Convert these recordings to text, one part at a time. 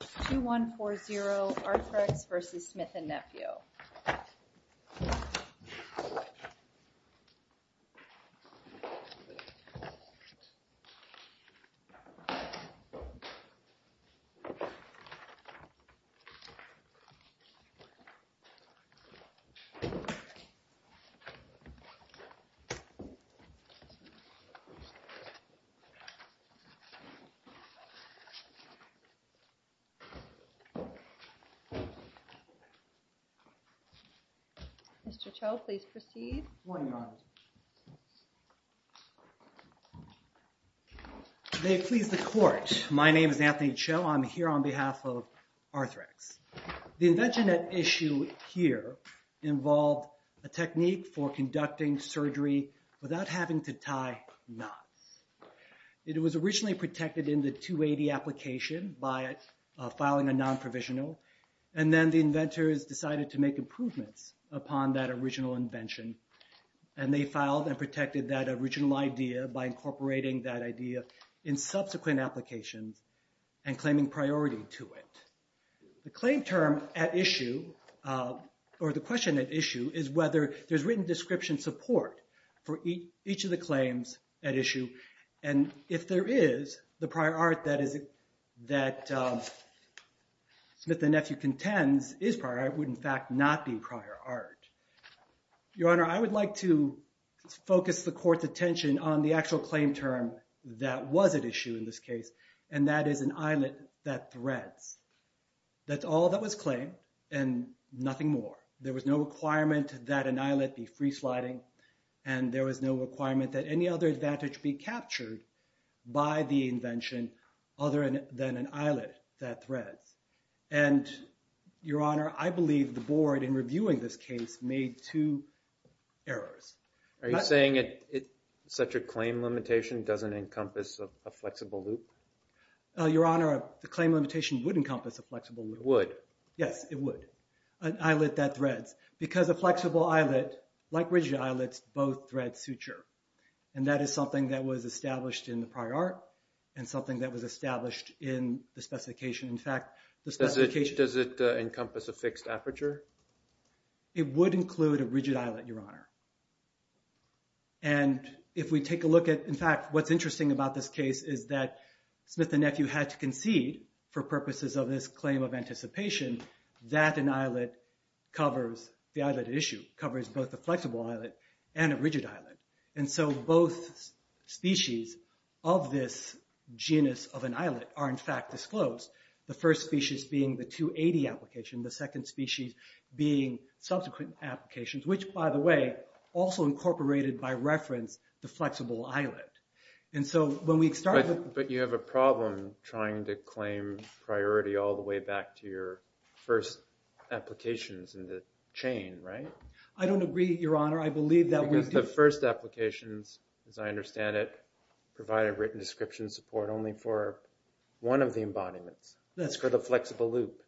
2140, Arthrex v. Smith & Nephew. The invention at issue here involved a technique for conducting surgery without having to tie knots. It was originally protected in the 280 application by filing a non-provisional. And then the inventors decided to make improvements upon that original invention. And they filed and protected that original idea by incorporating that idea in subsequent applications and claiming priority to it. The claim term at issue, or the question at issue, is whether there's written description support for each of the claims at issue. And if there is, the prior art that Smith & Nephew contends is prior art would, in fact, not be prior art. Your Honor, I would like to focus the court's attention on the actual claim term that was at issue in this case. And that is an eyelet that threads. That's all that was claimed and nothing more. There was no requirement that an eyelet be free sliding. And there was no requirement that any other advantage be captured by the invention other than an eyelet that threads. And, Your Honor, I believe the board, in reviewing this case, made two errors. Are you saying such a claim limitation doesn't encompass a flexible loop? Your Honor, the claim limitation would encompass a flexible loop. Would? Yes, it would. An eyelet that threads. Because a flexible eyelet, like rigid eyelets, both thread suture. And that is something that was established in the prior art and something that was established in the specification. In fact, the specification… Does it encompass a fixed aperture? It would include a rigid eyelet, Your Honor. And if we take a look at… In fact, what's interesting about this case is that Smith & Nephew had to concede for an eyelet covers… The eyelet issue covers both the flexible eyelet and a rigid eyelet. And so both species of this genus of an eyelet are, in fact, disclosed. The first species being the 280 application, the second species being subsequent applications, which, by the way, also incorporated by reference the flexible eyelet. And so when we start… in the chain, right? I don't agree, Your Honor. I believe that we do… Because the first applications, as I understand it, provide a written description support only for one of the embodiments. That's correct. It's for the flexible loop.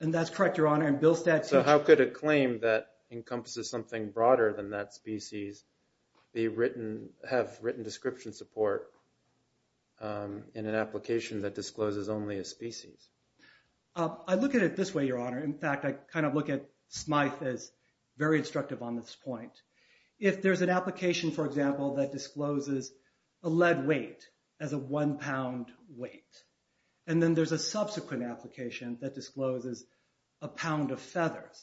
And that's correct, Your Honor. In Bill's statute… So how could a claim that encompasses something broader than that species have written description support in an application that discloses only a species? I look at it this way, Your Honor. In fact, I kind of look at Smythe as very instructive on this point. If there's an application, for example, that discloses a lead weight as a one-pound weight, and then there's a subsequent application that discloses a pound of feathers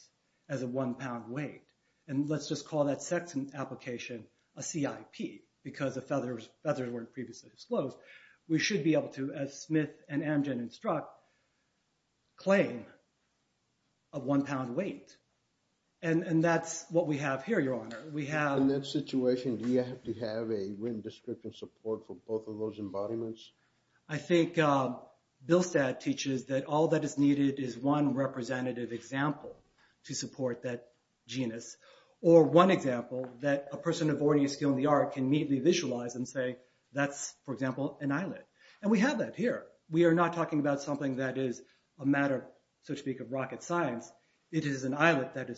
as a one-pound weight, and let's just call that second application a CIP because the feathers weren't previously disclosed, we should be able to, as Smythe and Amgen instruct, claim a one-pound weight. And that's what we have here, Your Honor. We have… In that situation, do you have to have a written description support for both of those embodiments? I think Bill's statute teaches that all that is needed is one representative example to support that genus or one example that a person of ordinary skill in the art can immediately visualize and say that's, for example, an islet. And we have that here. We are not talking about something that is a matter, so to speak, of rocket science. It is an islet that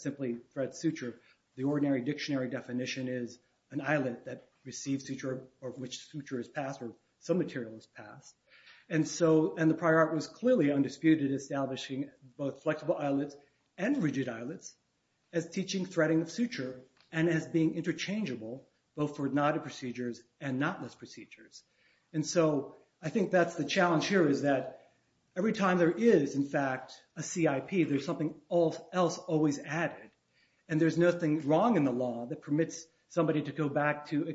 simply threads suture. The ordinary dictionary definition is an islet that receives suture or which suture is passed or some material is passed. And the prior art was clearly undisputed establishing both flexible islets and rigid islets as teaching threading of suture and as being interchangeable both for knotted procedures and knotless procedures. And so I think that's the challenge here is that every time there is, in fact, a CIP, there's something else always added. And there's nothing wrong in the law that permits somebody to go back to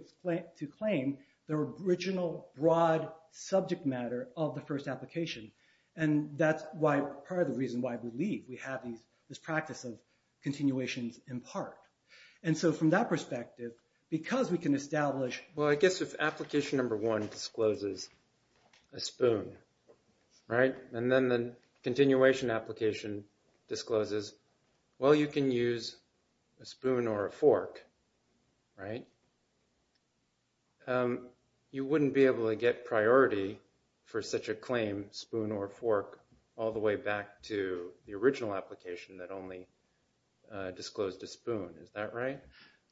claim their original broad subject matter of the first application. And that's part of the reason why I believe we have this practice of continuations in part. And so from that perspective, because we can establish... Well, I guess if application number one discloses a spoon, right, and then the continuation application discloses, well, you can use a spoon or a fork, right, you wouldn't be able to get priority for such a claim, spoon or fork, all the way back to the original application that only disclosed a spoon. Is that right?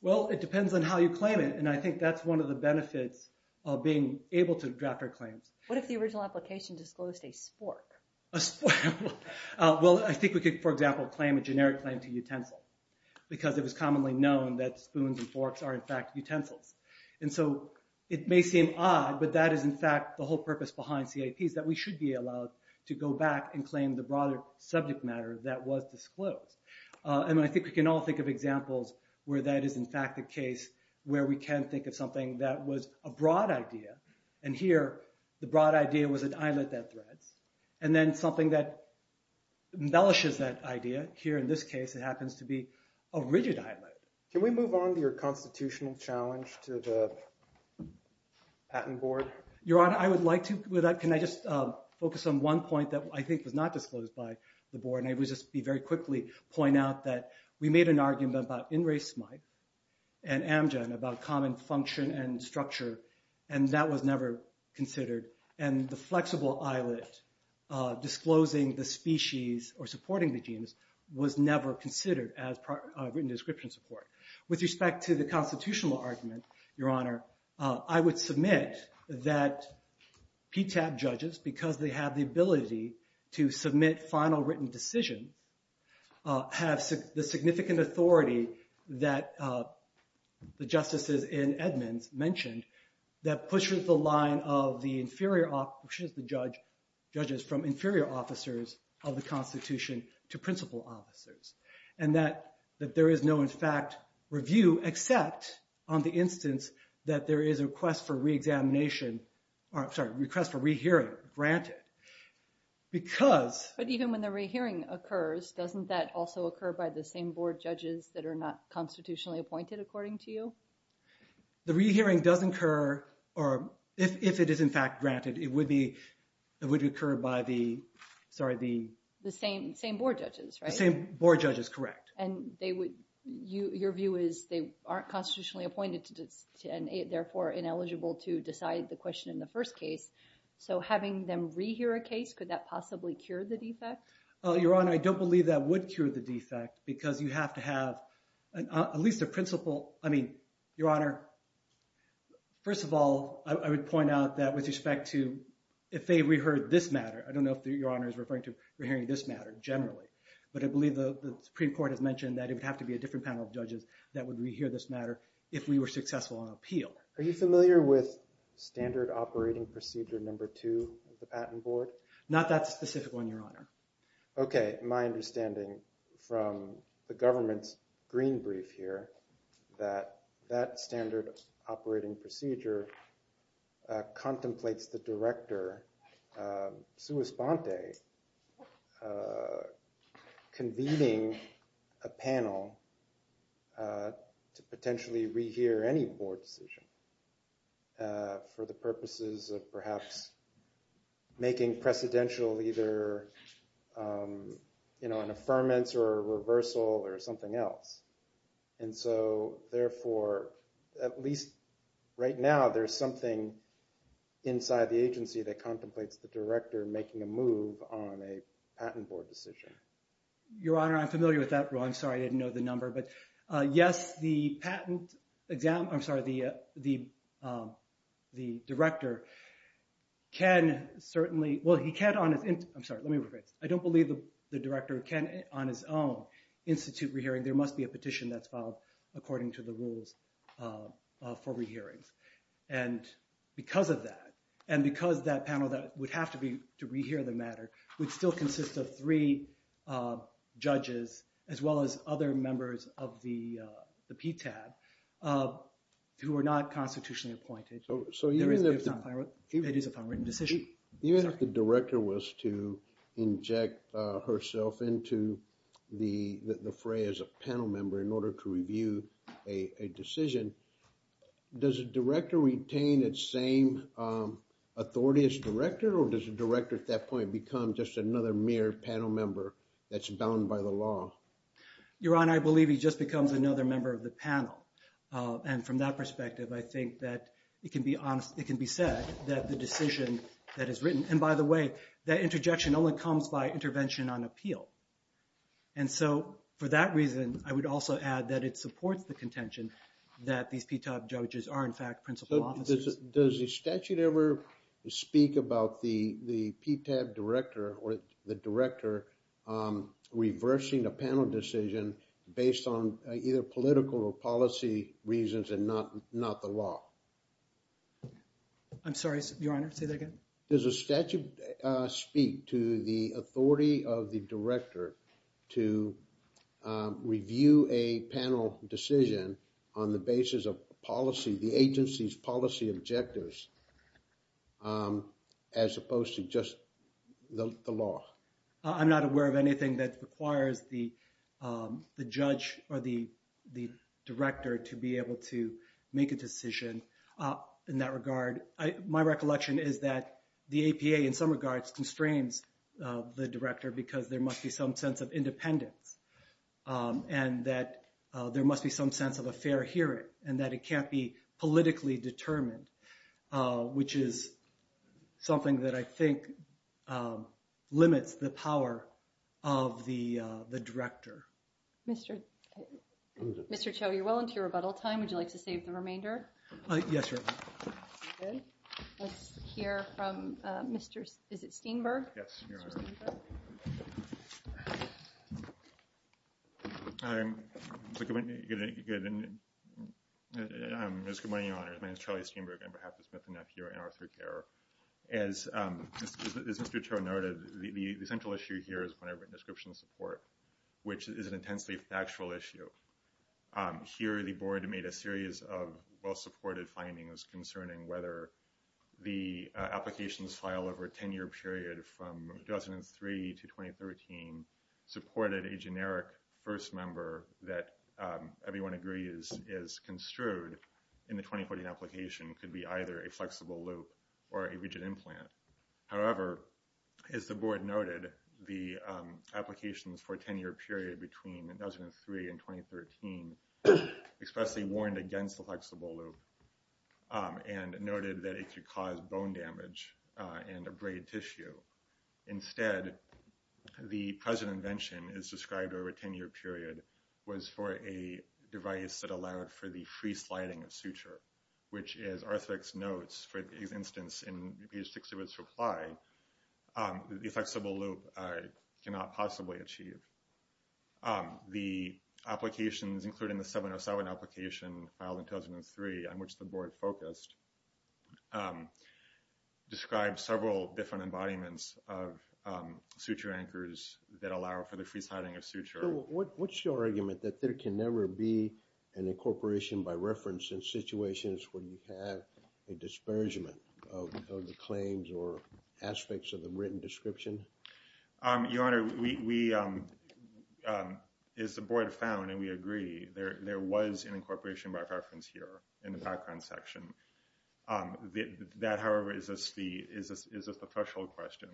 Well, it depends on how you claim it. And I think that's one of the benefits of being able to draft our claims. What if the original application disclosed a spork? A spork. Well, I think we could, for example, claim a generic claim to utensil because it was commonly known that spoons and forks are, in fact, utensils. And so it may seem odd, but that is, in fact, the whole purpose behind CIPs, that we should be allowed to go back and claim the broader subject matter that was disclosed. And I think we can all think of examples where that is, in fact, the case where we can think of something that was a broad idea, and here the broad idea was an eyelet that threads, and then something that embellishes that idea. Here, in this case, it happens to be a rigid eyelet. Can we move on to your constitutional challenge to the patent board? Your Honor, I would like to. Can I just focus on one point that I think was not disclosed by the board? And I would just very quickly point out that we made an argument about in race smite and amgen about common function and structure, and that was never considered. And the flexible eyelet disclosing the species or supporting the genes was never considered as written description support. With respect to the constitutional argument, Your Honor, I would submit that PTAP judges, because they have the ability to submit final written decisions, have the significant authority that the justices in Edmonds mentioned that pushes the line of the inferior, pushes the judges from inferior officers of the Constitution to principal officers, and that there is no, in fact, review, except on the instance that there is a request for re-examination, sorry, request for re-hearing granted. But even when the re-hearing occurs, doesn't that also occur by the same board judges that are not constitutionally appointed, according to you? The re-hearing does occur, or if it is, in fact, granted, it would occur by the, sorry, the... The same board judges, right? The same board judges, correct. And your view is they aren't constitutionally appointed and therefore ineligible to decide the question in the first case. So having them re-hear a case, could that possibly cure the defect? Your Honor, I don't believe that would cure the defect because you have to have at least a principal... I mean, Your Honor, first of all, I would point out that with respect to if they re-heard this matter, I don't know if Your Honor is referring to re-hearing this matter generally, but I believe the Supreme Court has mentioned that it would have to be a different panel of judges that would re-hear this matter if we were successful on appeal. Are you familiar with Standard Operating Procedure No. 2 of the Patent Board? Not that specific one, Your Honor. Okay, my understanding from the government's green brief here that that Standard Operating Procedure contemplates the director, sua sponte, convening a panel to potentially re-hear any board decision for the purposes of perhaps making precedential either an affirmance or a reversal or something else. And so therefore, at least right now, there's something inside the agency that contemplates the director making a move on a patent board decision. Your Honor, I'm familiar with that rule. I'm sorry, I didn't know the number. But yes, the patent exam—I'm sorry, the director can certainly—well, he can on his—I'm sorry, let me rephrase. I don't believe the director can on his own institute re-hearing. There must be a petition that's filed according to the rules for re-hearings. And because of that, and because that panel that would have to be to re-hear the matter would still consist of three judges as well as other members of the PTAB who are not constitutionally appointed. So even if— It is a fine written decision. Even if the director was to inject herself into the fray as a panel member in order to review a decision, does a director retain its same authority as director or does a director at that point become just another mere panel member that's bound by the law? Your Honor, I believe he just becomes another member of the panel. And from that perspective, I think that it can be said that the decision that is written— and by the way, that interjection only comes by intervention on appeal. And so for that reason, I would also add that it supports the contention that these PTAB judges are in fact principal officers. Does the statute ever speak about the PTAB director or the director reversing a panel decision based on either political or policy reasons and not the law? I'm sorry, Your Honor. Say that again? Does the statute speak to the authority of the director to review a panel decision on the basis of policy—the agency's policy objectives as opposed to just the law? I'm not aware of anything that requires the judge or the director to be able to make a decision in that regard. My recollection is that the APA in some regards constrains the director because there must be some sense of independence and that there must be some sense of a fair hearing and that it can't be politically determined, which is something that I think limits the power of the director. Mr. Cho, you're well into your rebuttal time. Would you like to save the remainder? Yes, Your Honor. Good. Let's hear from Mr.—is it Steenberg? Yes, Your Honor. Good morning, Your Honor. My name is Charlie Steenberg. I'm behalf of Smith & Neff here at NR3Care. As Mr. Cho noted, the central issue here is whenever a description of support, which is an intensely factual issue. Here, the board made a series of well-supported findings concerning whether the applications filed over a 10-year period from 2003 to 2013 supported a generic first member that everyone agrees is construed in the 2014 application could be either a flexible loop or a rigid implant. However, as the board noted, the applications for a 10-year period between 2003 and 2013 expressly warned against the flexible loop and noted that it could cause bone damage and abrade tissue. Instead, the present invention is described over a 10-year period was for a device that allowed for the free sliding of suture, which is Arthrex Notes, for instance, in page 6 of its reply, the flexible loop cannot possibly achieve. The applications, including the 707 application filed in 2003, on which the board focused, describe several different embodiments of suture anchors that allow for the free sliding of suture. What's your argument that there can never be an incorporation by reference in situations where you have a disparagement of the claims or aspects of the written description? Your Honor, we, as the board found and we agree, there was an incorporation by reference here in the background section. That, however, is just the threshold question.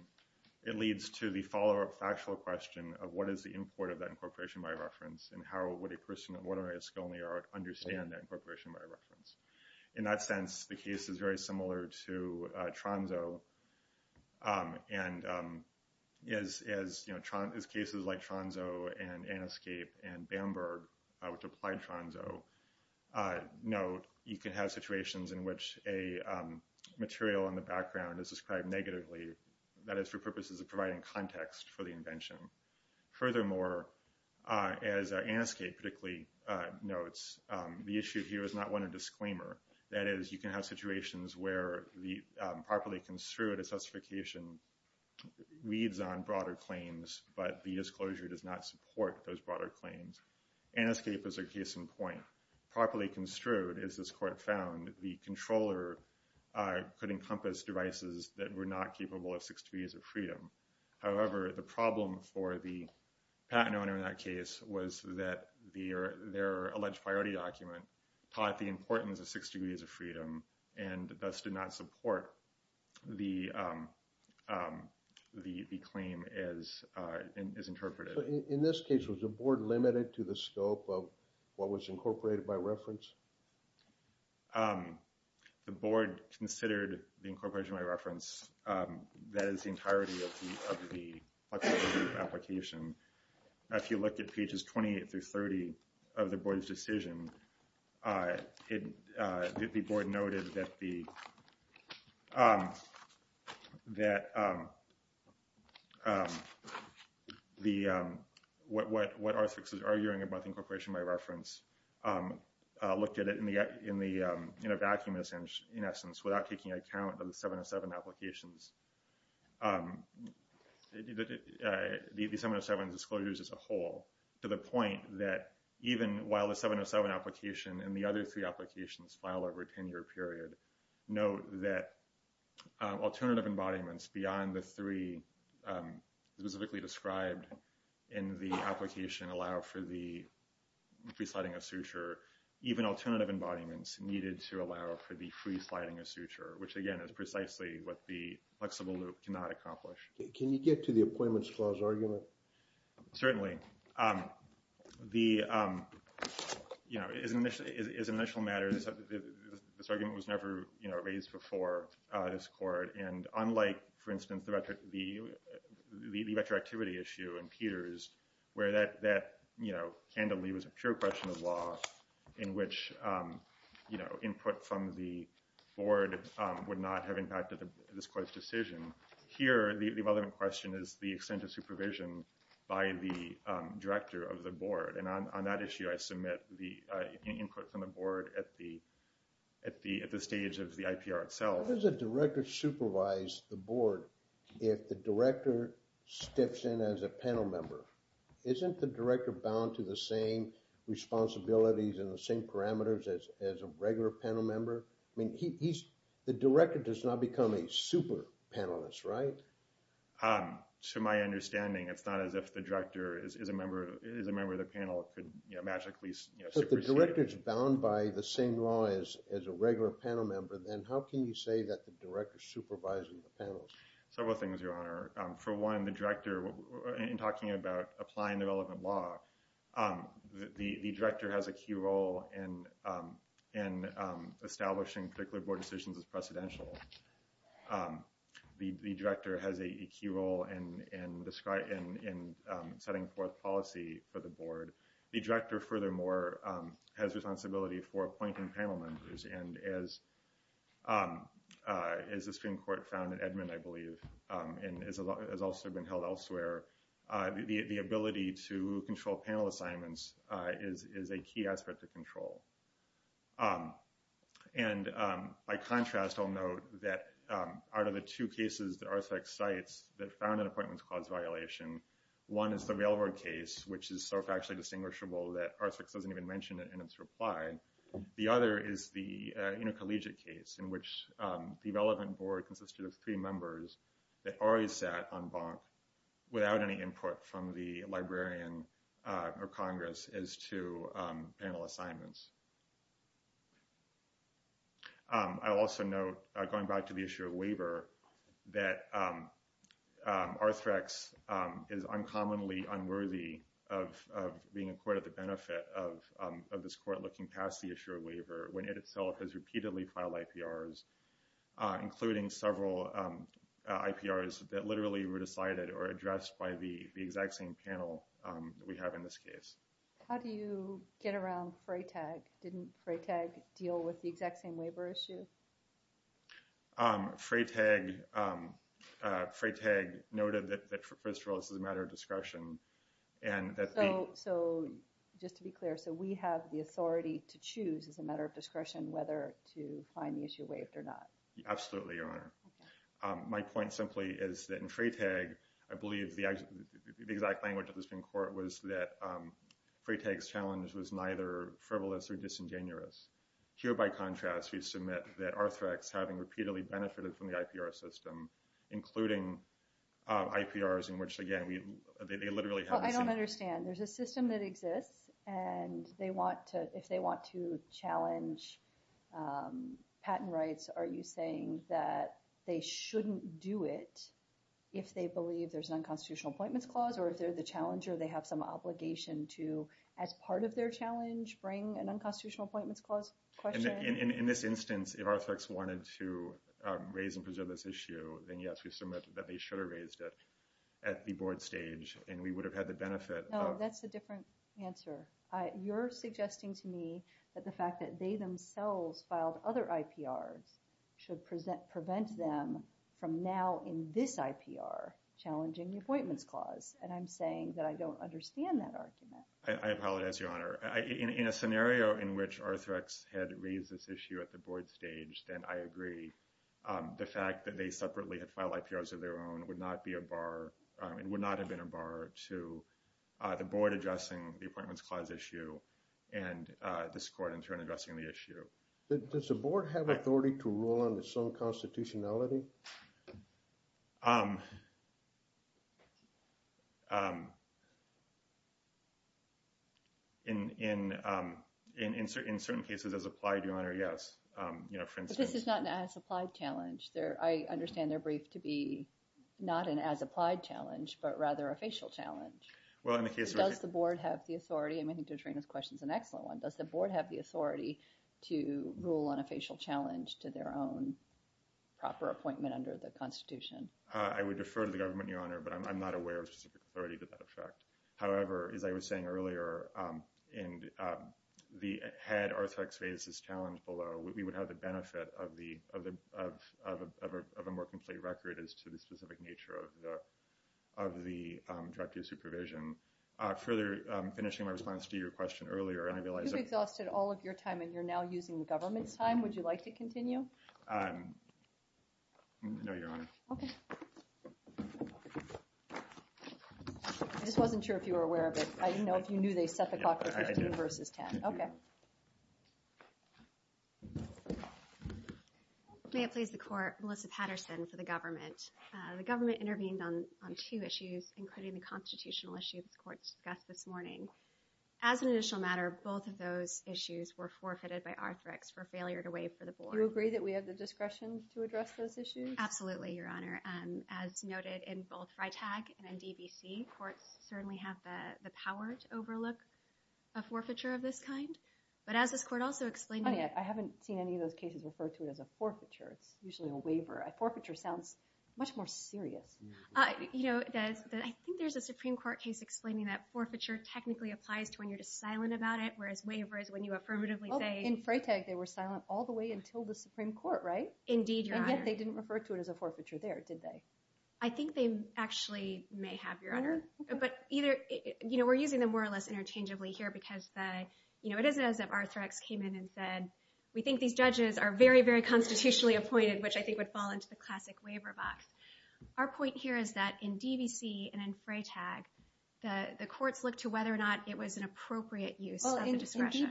It leads to the follow-up factual question of what is the import of that incorporation by reference and how would a person, whether a skill in the art, understand that incorporation by reference. In that sense, the case is very similar to Tronzo and as cases like Tronzo and Anescape and Bamberg, which applied Tronzo, note, you can have situations in which a material in the background is described negatively. That is for purposes of providing context for the invention. Furthermore, as Anescape particularly notes, the issue here is not one of disclaimer. That is, you can have situations where the properly construed justification reads on broader claims, but the disclosure does not support those broader claims. Anescape is a case in point. Properly construed, as this court found, the controller could encompass devices that were not capable of six degrees of freedom. However, the problem for the patent owner in that case was that their alleged priority document taught the importance of six degrees of freedom and thus did not support the claim as interpreted. In this case, was the board limited to the scope of what was incorporated by reference? The board considered the incorporation by reference. That is the entirety of the application. If you look at pages 28 through 30 of the board's decision, the board noted that what R6 is arguing about incorporation by reference, looked at it in a vacuum, in essence, without taking account of the 707 applications. The 707 disclosures as a whole, to the point that even while the 707 application and the other three applications filed over a 10-year period, note that alternative embodiments beyond the three specifically described in the application allow for the presiding a suture. Even alternative embodiments needed to allow for the presiding a suture, which again is precisely what the flexible loop cannot accomplish. Can you get to the appointments clause argument? Certainly. As an initial matter, this argument was never raised before this court. Unlike, for instance, the retroactivity issue in Peters, where that candidly was a pure question of law in which input from the board would not have impacted this court's decision. Here, the relevant question is the extent of supervision by the director of the board. And on that issue, I submit the input from the board at the stage of the IPR itself. How does a director supervise the board if the director steps in as a panel member? Isn't the director bound to the same responsibilities and the same parameters as a regular panel member? The director does not become a super panelist, right? To my understanding, it's not as if the director is a member of the panel and could magically supersede. If the director is bound by the same law as a regular panel member, then how can you say that the director is supervising the panel? Several things, Your Honor. For one, the director, in talking about applying the relevant law, the director has a key role in establishing particular board decisions as precedential. The director has a key role in setting forth policy for the board. The director, furthermore, has responsibility for appointing panel members. And as the Supreme Court found in Edmund, I believe, and has also been held elsewhere, the ability to control panel assignments is a key aspect of control. And by contrast, I'll note that out of the two cases that RSpecs cites that found an appointments clause violation, one is the railroad case, which is so factually distinguishable that RSpecs doesn't even mention it in its reply. The other is the intercollegiate case in which the relevant board consisted of three members that already sat on bonk without any input from the librarian or Congress as to panel assignments. I'll also note, going back to the issue of waiver, that RSpecs is uncommonly unworthy of being a court at the benefit of this court looking past the issue of waiver when it itself has repeatedly filed IPRs, including several IPRs that literally were decided or addressed by the exact same panel that we have in this case. How do you get around Freytag? Didn't Freytag deal with the exact same waiver issue? Freytag noted that, first of all, this is a matter of discretion. So, just to be clear, so we have the authority to choose as a matter of discretion whether to find the issue waived or not? Absolutely, Your Honor. My point simply is that in Freytag, I believe the exact language of the Supreme Court was that Freytag's challenge was neither frivolous or disingenuous. Here, by contrast, we submit that RSpecs, having repeatedly benefited from the IPR system, including IPRs in which, again, they literally haven't seen it. I understand. There's a system that exists, and if they want to challenge patent rights, are you saying that they shouldn't do it if they believe there's an unconstitutional appointments clause? Or if they're the challenger, they have some obligation to, as part of their challenge, bring an unconstitutional appointments clause? In this instance, if RSpecs wanted to raise and preserve this issue, then yes, we submit that they should have raised it at the board stage, and we would have had the benefit of… No, that's a different answer. You're suggesting to me that the fact that they themselves filed other IPRs should prevent them from now, in this IPR, challenging the appointments clause. And I'm saying that I don't understand that argument. I apologize, Your Honor. In a scenario in which RSpecs had raised this issue at the board stage, then I agree. The fact that they separately had filed IPRs of their own would not be a bar – would not have been a bar to the board addressing the appointments clause issue and this court in turn addressing the issue. Does the board have authority to rule on its own constitutionality? In certain cases, as applied, Your Honor, yes. But this is not an as-applied challenge. I understand they're briefed to be not an as-applied challenge, but rather a facial challenge. Well, in the case of… Does the board have the authority – I mean, I think D'Atrina's question is an excellent one. Does the board have the authority to rule on a facial challenge to their own proper appointment under the constitution? I would defer to the government, Your Honor, but I'm not aware of specific authority to that effect. Further, finishing my response to your question earlier, and I realize that… You've exhausted all of your time and you're now using the government's time. Would you like to continue? No, Your Honor. Okay. I just wasn't sure if you were aware of it. I didn't know if you knew they set the clock to 15 versus 10. Yeah, I did. Okay. May it please the court, Melissa Patterson for the government. The government intervened on two issues, including the constitutional issue that the court discussed this morning. As an initial matter, both of those issues were forfeited by Arthrex for failure to waive for the board. Do you agree that we have the discretion to address those issues? Absolutely, Your Honor. As noted in both Freytag and DBC, courts certainly have the power to overlook a forfeiture of this kind, but as this court also explained… Honey, I haven't seen any of those cases referred to as a forfeiture. It's usually a waiver. A forfeiture sounds much more serious. I think there's a Supreme Court case explaining that forfeiture technically applies to when you're just silent about it, whereas waiver is when you affirmatively say… In Freytag, they were silent all the way until the Supreme Court, right? Indeed, Your Honor. And yet they didn't refer to it as a forfeiture there, did they? I think they actually may have, Your Honor. But we're using them more or less interchangeably here because it isn't as if Arthrex came in and said, we think these judges are very, very constitutionally appointed, which I think would fall into the classic waiver box. Our point here is that in DBC and in Freytag, the courts looked to whether or not it was an appropriate use of the discretion.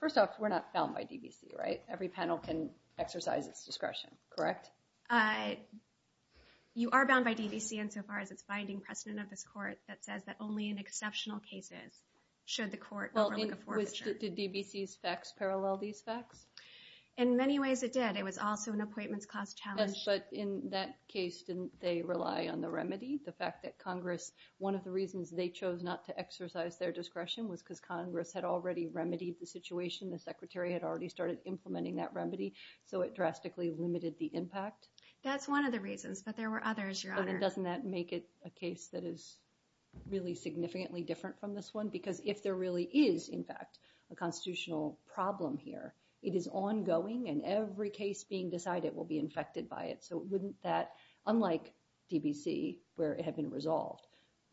First off, we're not bound by DBC, right? Every panel can exercise its discretion, correct? You are bound by DBC insofar as it's finding precedent of this court that says that only in exceptional cases should the court overlook a forfeiture. Did DBC's facts parallel these facts? In many ways, it did. It was also an appointments clause challenge. But in that case, didn't they rely on the remedy? The fact that Congress, one of the reasons they chose not to exercise their discretion was because Congress had already remedied the situation. The secretary had already started implementing that remedy, so it drastically limited the impact. That's one of the reasons, but there were others, Your Honor. But doesn't that make it a case that is really significantly different from this one? Because if there really is, in fact, a constitutional problem here, it is ongoing and every case being decided will be infected by it. So wouldn't that, unlike DBC where it had been resolved,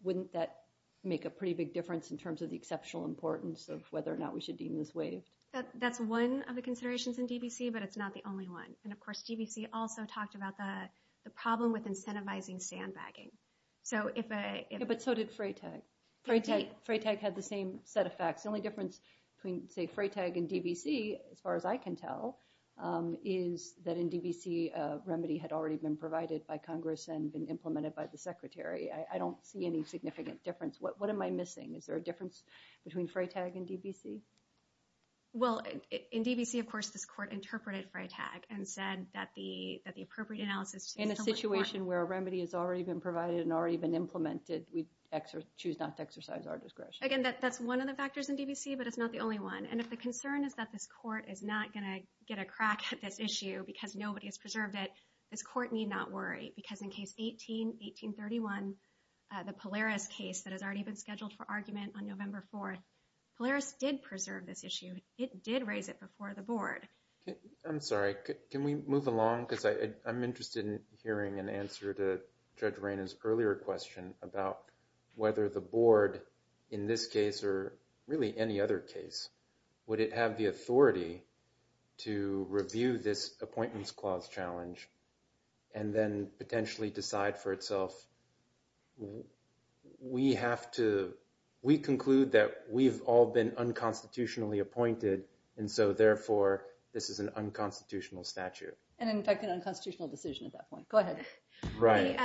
wouldn't that make a pretty big difference in terms of the exceptional importance of whether or not we should deem this waived? That's one of the considerations in DBC, but it's not the only one. And of course, DBC also talked about the problem with incentivizing sandbagging. But so did Freytag. Freytag had the same set of facts. The only difference between, say, Freytag and DBC, as far as I can tell, is that in DBC a remedy had already been provided by Congress and been implemented by the secretary. I don't see any significant difference. What am I missing? Is there a difference between Freytag and DBC? Well, in DBC, of course, this court interpreted Freytag and said that the appropriate analysis— In a situation where a remedy has already been provided and already been implemented, we choose not to exercise our discretion. Again, that's one of the factors in DBC, but it's not the only one. And if the concern is that this court is not going to get a crack at this issue because nobody has preserved it, this court need not worry. Because in case 18, 1831, the Polaris case that has already been scheduled for argument on November 4th, Polaris did preserve this issue. I'm sorry. Can we move along? Because I'm interested in hearing an answer to Judge Rayna's earlier question about whether the board, in this case or really any other case, would it have the authority to review this Appointments Clause challenge and then potentially decide for itself, we have to—we conclude that we've all been unconstitutionally appointed, and so therefore this is an unconstitutional statute. And in fact, an unconstitutional decision at that point. Go ahead. Right.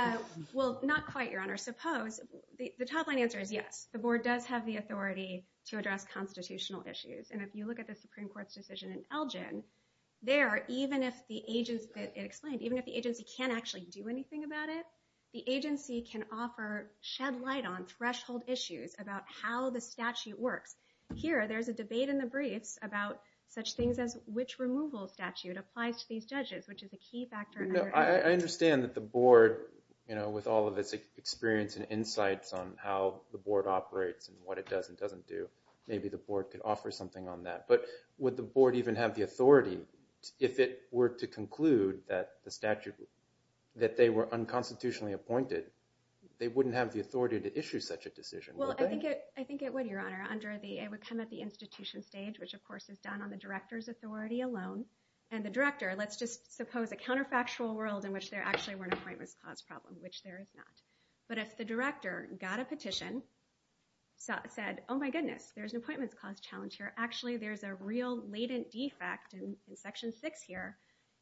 Well, not quite, Your Honor. Suppose—the top line answer is yes. The board does have the authority to address constitutional issues. And if you look at the Supreme Court's decision in Elgin, there, even if the agency can't actually do anything about it, the agency can offer—shed light on threshold issues about how the statute works. Here, there's a debate in the briefs about such things as which removal statute applies to these judges, which is a key factor. I understand that the board, with all of its experience and insights on how the board operates and what it does and doesn't do, maybe the board could offer something on that. But would the board even have the authority, if it were to conclude that the statute—that they were unconstitutionally appointed, they wouldn't have the authority to issue such a decision, would they? Well, I think it would, Your Honor, under the—it would come at the institution stage, which of course is done on the director's authority alone. And the director—let's just suppose a counterfactual world in which there actually were an Appointments Clause problem, which there is not. But if the director got a petition, said, oh my goodness, there's an Appointments Clause challenge here. Actually, there's a real latent defect in Section 6 here.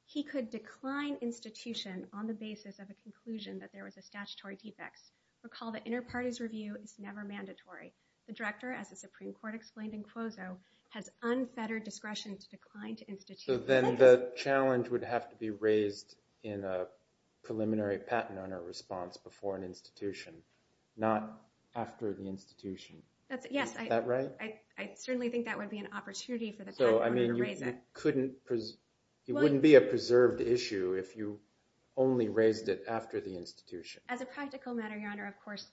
He could decline institution on the basis of a conclusion that there was a statutory defect. Recall that inter-parties review is never mandatory. The director, as the Supreme Court explained in Quozo, has unfettered discretion to decline to institution. So then the challenge would have to be raised in a preliminary patent owner response before an institution, not after the institution. Yes. Is that right? I certainly think that would be an opportunity for the patent owner to raise it. So, I mean, you couldn't—it wouldn't be a preserved issue if you only raised it after the institution. As a practical matter, Your Honor, of course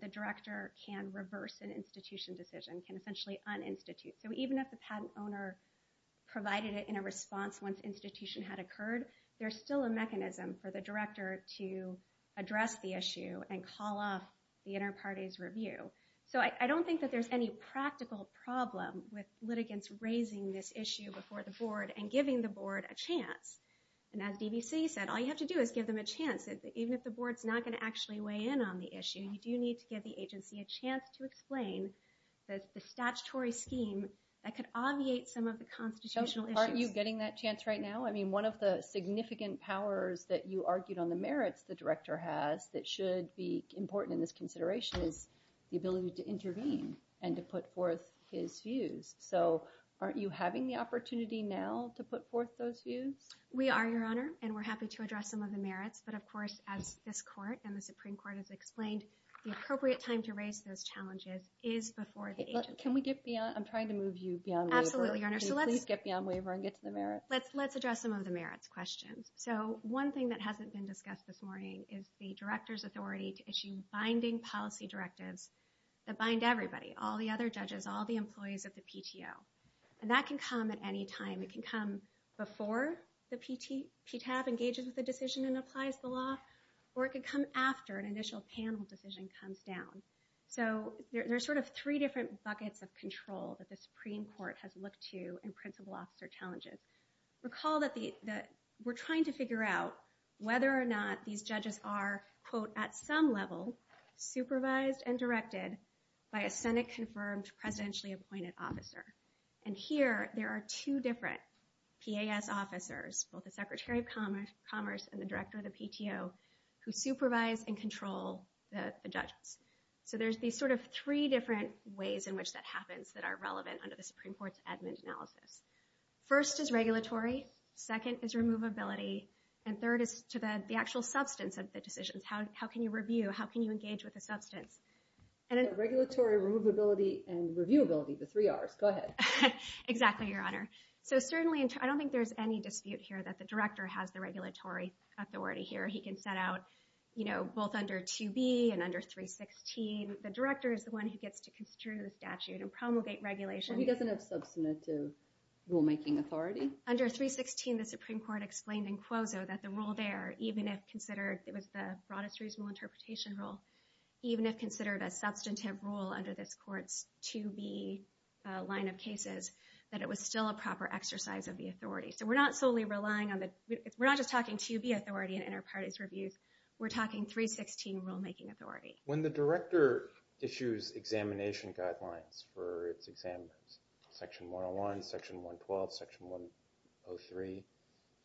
the director can reverse an institution decision, can essentially un-institute. So even if the patent owner provided it in a response once institution had occurred, there's still a mechanism for the director to address the issue and call off the inter-parties review. So I don't think that there's any practical problem with litigants raising this issue before the board and giving the board a chance. And as DBC said, all you have to do is give them a chance. Even if the board's not going to actually weigh in on the issue, you do need to give the agency a chance to explain the statutory scheme that could obviate some of the constitutional issues. Aren't you getting that chance right now? I mean, one of the significant powers that you argued on the merits the director has that should be important in this consideration is the ability to intervene and to put forth his views. So aren't you having the opportunity now to put forth those views? We are, Your Honor, and we're happy to address some of the merits. But of course, as this court and the Supreme Court has explained, the appropriate time to raise those challenges is before the agency. Can we get beyond—I'm trying to move you beyond waiver. Absolutely, Your Honor. Can you please get beyond waiver and get to the merits? Let's address some of the merits questions. So one thing that hasn't been discussed this morning is the director's authority to issue binding policy directives that bind everybody, all the other judges, all the employees of the PTO. And that can come at any time. It can come before the PTAB engages with the decision and applies the law, or it could come after an initial panel decision comes down. So there are sort of three different buckets of control that the Supreme Court has looked to in principal officer challenges. Recall that we're trying to figure out whether or not these judges are, quote, at some level supervised and directed by a Senate-confirmed, presidentially-appointed officer. And here there are two different PAS officers, both the Secretary of Commerce and the director of the PTO, who supervise and control the judges. So there's these sort of three different ways in which that happens that are relevant under the Supreme Court's admin analysis. First is regulatory. Second is removability. And third is to the actual substance of the decisions. How can you review? How can you engage with the substance? So regulatory, removability, and reviewability, the three Rs. Go ahead. Exactly, Your Honor. So certainly I don't think there's any dispute here that the director has the regulatory authority here. He can set out, you know, both under 2B and under 316. The director is the one who gets to construe the statute and promulgate regulation. So he doesn't have substantive rulemaking authority? Under 316, the Supreme Court explained in quoso that the rule there, even if considered, it was the broadest reasonable interpretation rule, even if considered a substantive rule under this Court's 2B line of cases, that it was still a proper exercise of the authority. So we're not solely relying on the – we're not just talking 2B authority in inter-parties reviews. We're talking 316 rulemaking authority. When the director issues examination guidelines for its examiners, Section 101, Section 112, Section 103,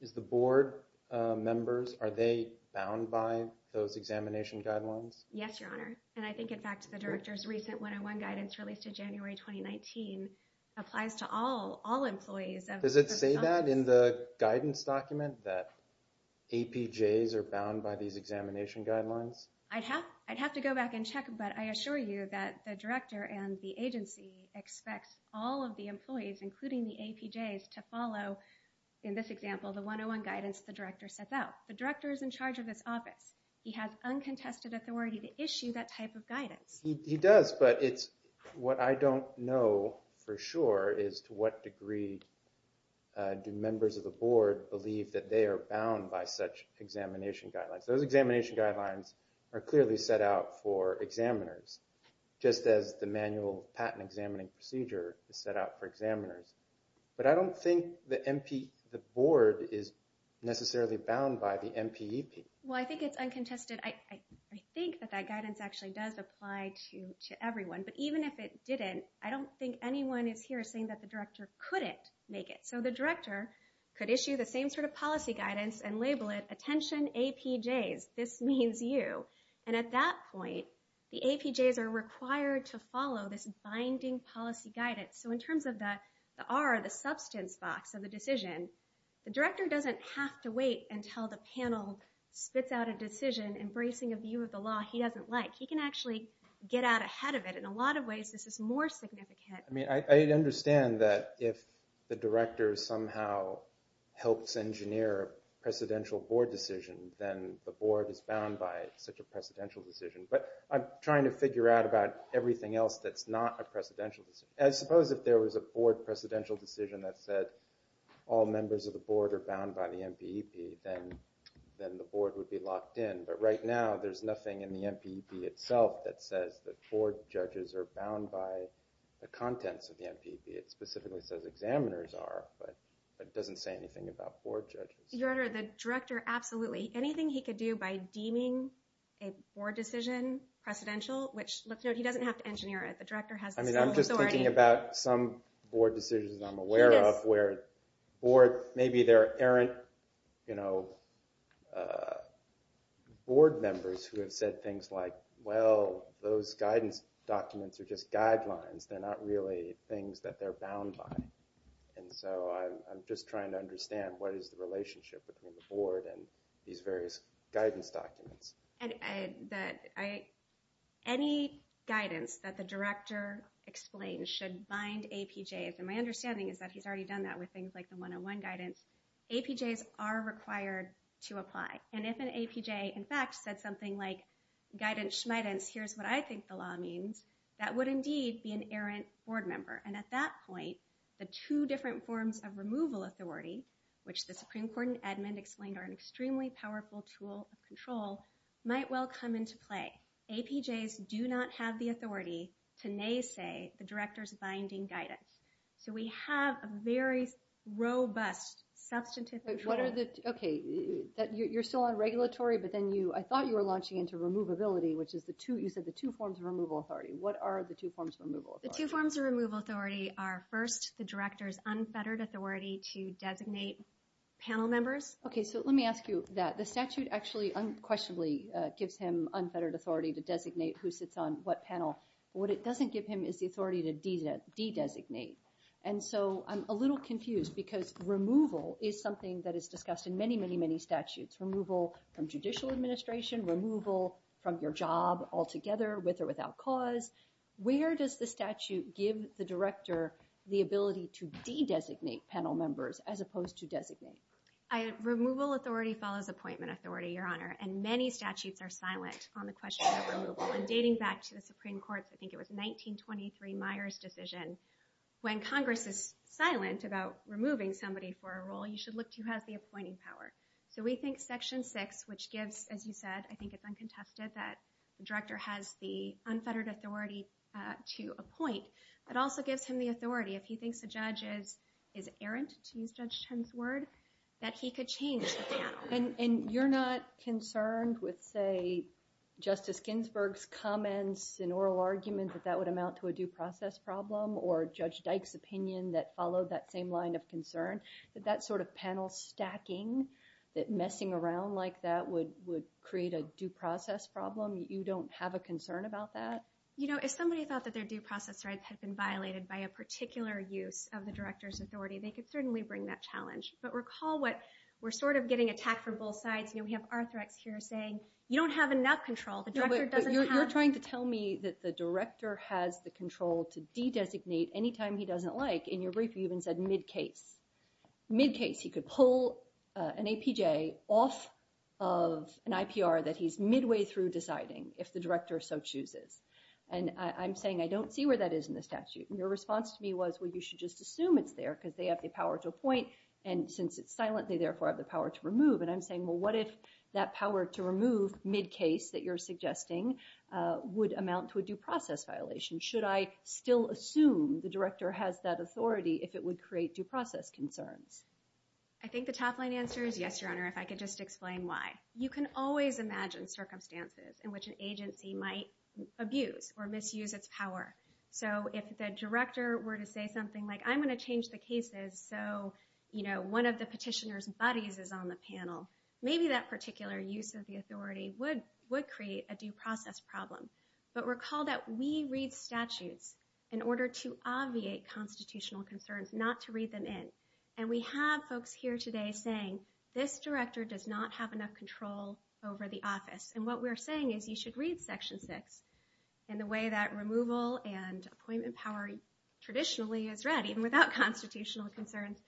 is the board members, are they bound by those examination guidelines? Yes, Your Honor. And I think, in fact, the director's recent one-on-one guidance released in January 2019 applies to all employees. Does it say that in the guidance document that APJs are bound by these examination guidelines? I'd have to go back and check, but I assure you that the director and the agency expects all of the employees, including the APJs, to follow, in this example, the one-on-one guidance the director sets out. The director is in charge of this office. He has uncontested authority to issue that type of guidance. He does, but it's – what I don't know for sure is to what degree do members of the board believe that they are bound by such examination guidelines. Those examination guidelines are clearly set out for examiners, just as the manual patent examining procedure is set out for examiners. But I don't think the board is necessarily bound by the MPEP. Well, I think it's uncontested. I think that that guidance actually does apply to everyone, but even if it didn't, I don't think anyone is here saying that the director couldn't make it. So the director could issue the same sort of policy guidance and label it, attention APJs, this means you. And at that point, the APJs are required to follow this binding policy guidance. So in terms of the R, the substance box of the decision, the director doesn't have to wait until the panel spits out a decision embracing a view of the law he doesn't like. He can actually get out ahead of it. In a lot of ways, this is more significant. I understand that if the director somehow helps engineer a presidential board decision, then the board is bound by such a presidential decision. But I'm trying to figure out about everything else that's not a presidential decision. I suppose if there was a board presidential decision that said all members of the board are bound by the MPEP, then the board would be locked in. But right now, there's nothing in the MPEP itself that says that board judges are bound by the contents of the MPEP. It specifically says examiners are, but it doesn't say anything about board judges. Your Honor, the director absolutely. Anything he could do by deeming a board decision precedential, which let's note he doesn't have to engineer it. The director has the sole authority. I mean, I'm just thinking about some board decisions I'm aware of where board, maybe there aren't board members who have said things like, well, those guidance documents are just guidelines. They're not really things that they're bound by. And so I'm just trying to understand what is the relationship between the board and these various guidance documents. Any guidance that the director explains should bind APJs. And my understanding is that he's already done that with things like the 101 guidance. APJs are required to apply. And if an APJ, in fact, said something like guidance, here's what I think the law means, that would indeed be an errant board member. And at that point, the two different forms of removal authority, which the Supreme Court and Edmund explained are an extremely powerful tool of control, might well come into play. APJs do not have the authority to naysay the director's binding guidance. So we have a very robust substantive control. You're still on regulatory, but I thought you were launching into removability, which is you said the two forms of removal authority. What are the two forms of removal authority? The two forms of removal authority are, first, the director's unfettered authority to designate panel members. Okay, so let me ask you that. The statute actually unquestionably gives him unfettered authority to designate who sits on what panel. What it doesn't give him is the authority to de-designate. And so I'm a little confused because removal is something that is discussed in many, many, many statutes. Removal from judicial administration, removal from your job altogether with or without cause. Where does the statute give the director the ability to de-designate panel members as opposed to designate? Removal authority follows appointment authority, Your Honor, and many statutes are silent on the question of removal. And dating back to the Supreme Court's, I think it was 1923, Myers decision, when Congress is silent about removing somebody for a role, you should look to who has the appointing power. So we think Section 6, which gives, as you said, I think it's uncontested, that the director has the unfettered authority to appoint, but also gives him the authority if he thinks a judge is errant, to use Judge Chen's word, that he could change the panel. And you're not concerned with, say, Justice Ginsburg's comments in oral argument that that would amount to a due process problem, or Judge Dyke's opinion that followed that same line of concern, that that sort of panel stacking, that messing around like that, would create a due process problem? You don't have a concern about that? You know, if somebody thought that their due process rights had been violated by a particular use of the director's authority, they could certainly bring that challenge. But recall what we're sort of getting attacked from both sides. You know, we have Arthrex here saying, you don't have enough control. You're trying to tell me that the director has the control to de-designate anytime he doesn't like. In your brief, you even said mid-case. Mid-case. He could pull an APJ off of an IPR that he's midway through deciding, if the director so chooses. And I'm saying I don't see where that is in the statute. And your response to me was, well, you should just assume it's there because they have the power to appoint, and since it's silent, they therefore have the power to remove. And I'm saying, well, what if that power to remove, mid-case, that you're suggesting, would amount to a due process violation? Should I still assume the director has that authority if it would create due process concerns? I think the top-line answer is yes, Your Honor, if I could just explain why. You can always imagine circumstances in which an agency might abuse or misuse its power. So if the director were to say something like, I'm going to change the cases so one of the petitioner's buddies is on the panel, maybe that particular use of the authority would create a due process problem. But recall that we read statutes in order to obviate constitutional concerns, not to read them in. And we have folks here today saying, this director does not have enough control over the office. And what we're saying is you should read Section 6 in the way that removal and appointment power traditionally is read, even without constitutional concerns,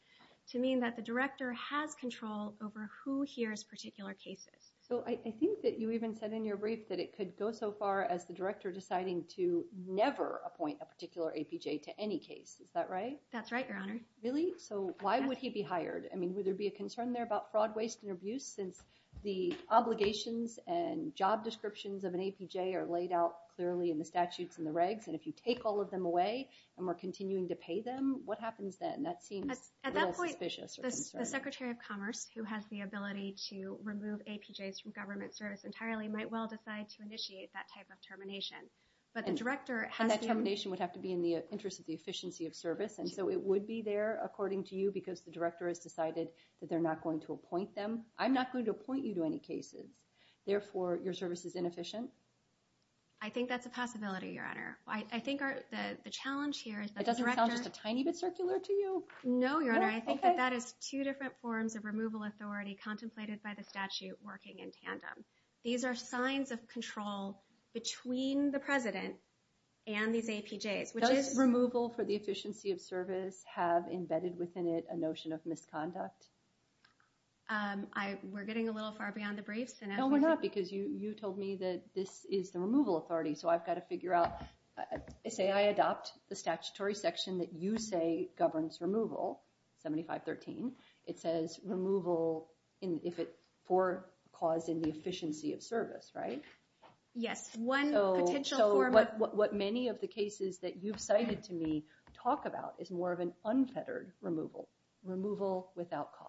to mean that the director has control over who hears particular cases. So I think that you even said in your brief that it could go so far as the director deciding to never appoint a particular APJ to any case. Is that right? That's right, Your Honor. Really? So why would he be hired? I mean, would there be a concern there about fraud, waste, and abuse since the obligations and job descriptions of an APJ are laid out clearly in the statutes and the regs, and if you take all of them away and we're continuing to pay them, what happens then? That seems really suspicious or concerning. At that point, the Secretary of Commerce, who has the ability to remove APJs from government service entirely, might well decide to initiate that type of termination. And that termination would have to be in the interest of the efficiency of service, and so it would be there, according to you, because the director has decided that they're not going to appoint them. I'm not going to appoint you to any cases. Therefore, your service is inefficient? I think that's a possibility, Your Honor. It doesn't sound just a tiny bit circular to you? No, Your Honor. I think that that is two different forms of removal authority contemplated by the statute working in tandem. These are signs of control between the president and these APJs. Does removal for the efficiency of service have embedded within it a notion of misconduct? We're getting a little far beyond the briefs. No, we're not, because you told me that this is the removal authority, so I've got to figure out. Say I adopt the statutory section that you say governs removal, 7513. It says removal for cause in the efficiency of service, right? Yes. So what many of the cases that you've cited to me talk about is more of an unfettered removal, removal without cause.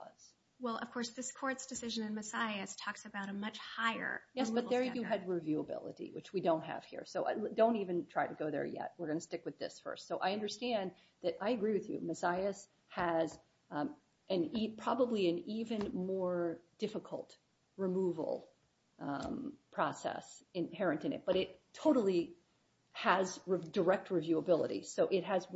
Well, of course, this Court's decision in Messiahs talks about a much higher removal standard. Yes, but there you had reviewability, which we don't have here. So don't even try to go there yet. We're going to stick with this first. So I understand that I agree with you. Messiahs has probably an even more difficult removal process inherent in it, but it totally has direct reviewability. So it has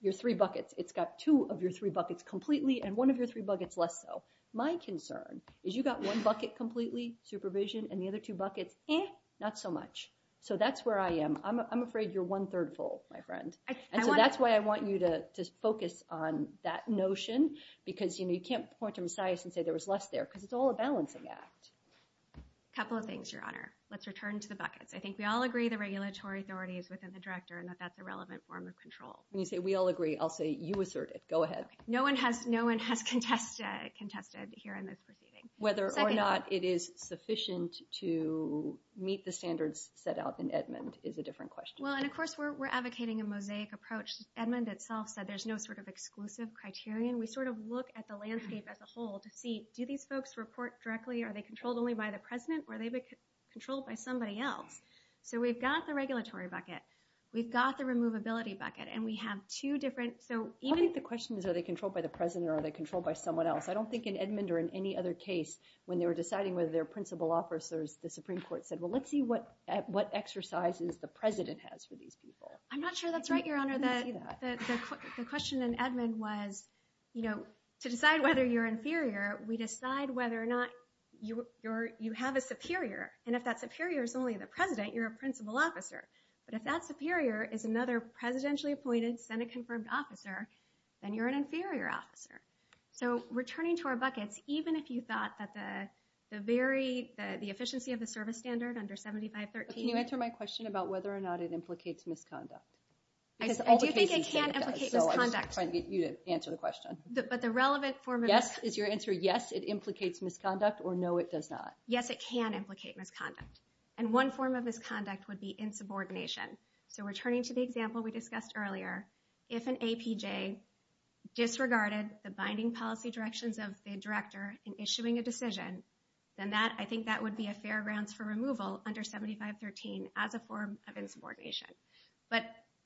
your three buckets. It's got two of your three buckets completely and one of your three buckets less so. My concern is you've got one bucket completely, supervision, and the other two buckets, eh, not so much. So that's where I am. I'm afraid you're one-third full, my friend. And so that's why I want you to focus on that notion because you can't point to Messiahs and say there was less there because it's all a balancing act. A couple of things, Your Honor. Let's return to the buckets. I think we all agree the regulatory authority is within the director and that that's a relevant form of control. When you say we all agree, I'll say you assert it. Go ahead. No one has contested here in this proceeding. Whether or not it is sufficient to meet the standards set out in Edmund is a different question. Well, and, of course, we're advocating a mosaic approach. Edmund itself said there's no sort of exclusive criterion. We sort of look at the landscape as a whole to see, do these folks report directly, are they controlled only by the president, or are they controlled by somebody else? So we've got the regulatory bucket. We've got the removability bucket, and we have two different. I think the question is, are they controlled by the president or are they controlled by someone else? I don't think in Edmund or in any other case when they were deciding whether they're principal officers, the Supreme Court said, well, let's see what exercises the president has for these people. I'm not sure that's right, Your Honor. The question in Edmund was, you know, to decide whether you're inferior, we decide whether or not you have a superior, and if that superior is only the president, you're a principal officer. But if that superior is another presidentially appointed, Senate-confirmed officer, then you're an inferior officer. So returning to our buckets, even if you thought that the very – the efficiency of the service standard under 7513 – Can you answer my question about whether or not it implicates misconduct? Do you think it can implicate misconduct? I'm trying to get you to answer the question. But the relevant form of – Yes, is your answer yes, it implicates misconduct, or no, it does not? Yes, it can implicate misconduct, and one form of misconduct would be insubordination. So returning to the example we discussed earlier, if an APJ disregarded the binding policy directions of the director in issuing a decision, then that – I think that would be a fair grounds for removal under 7513 as a form of insubordination. But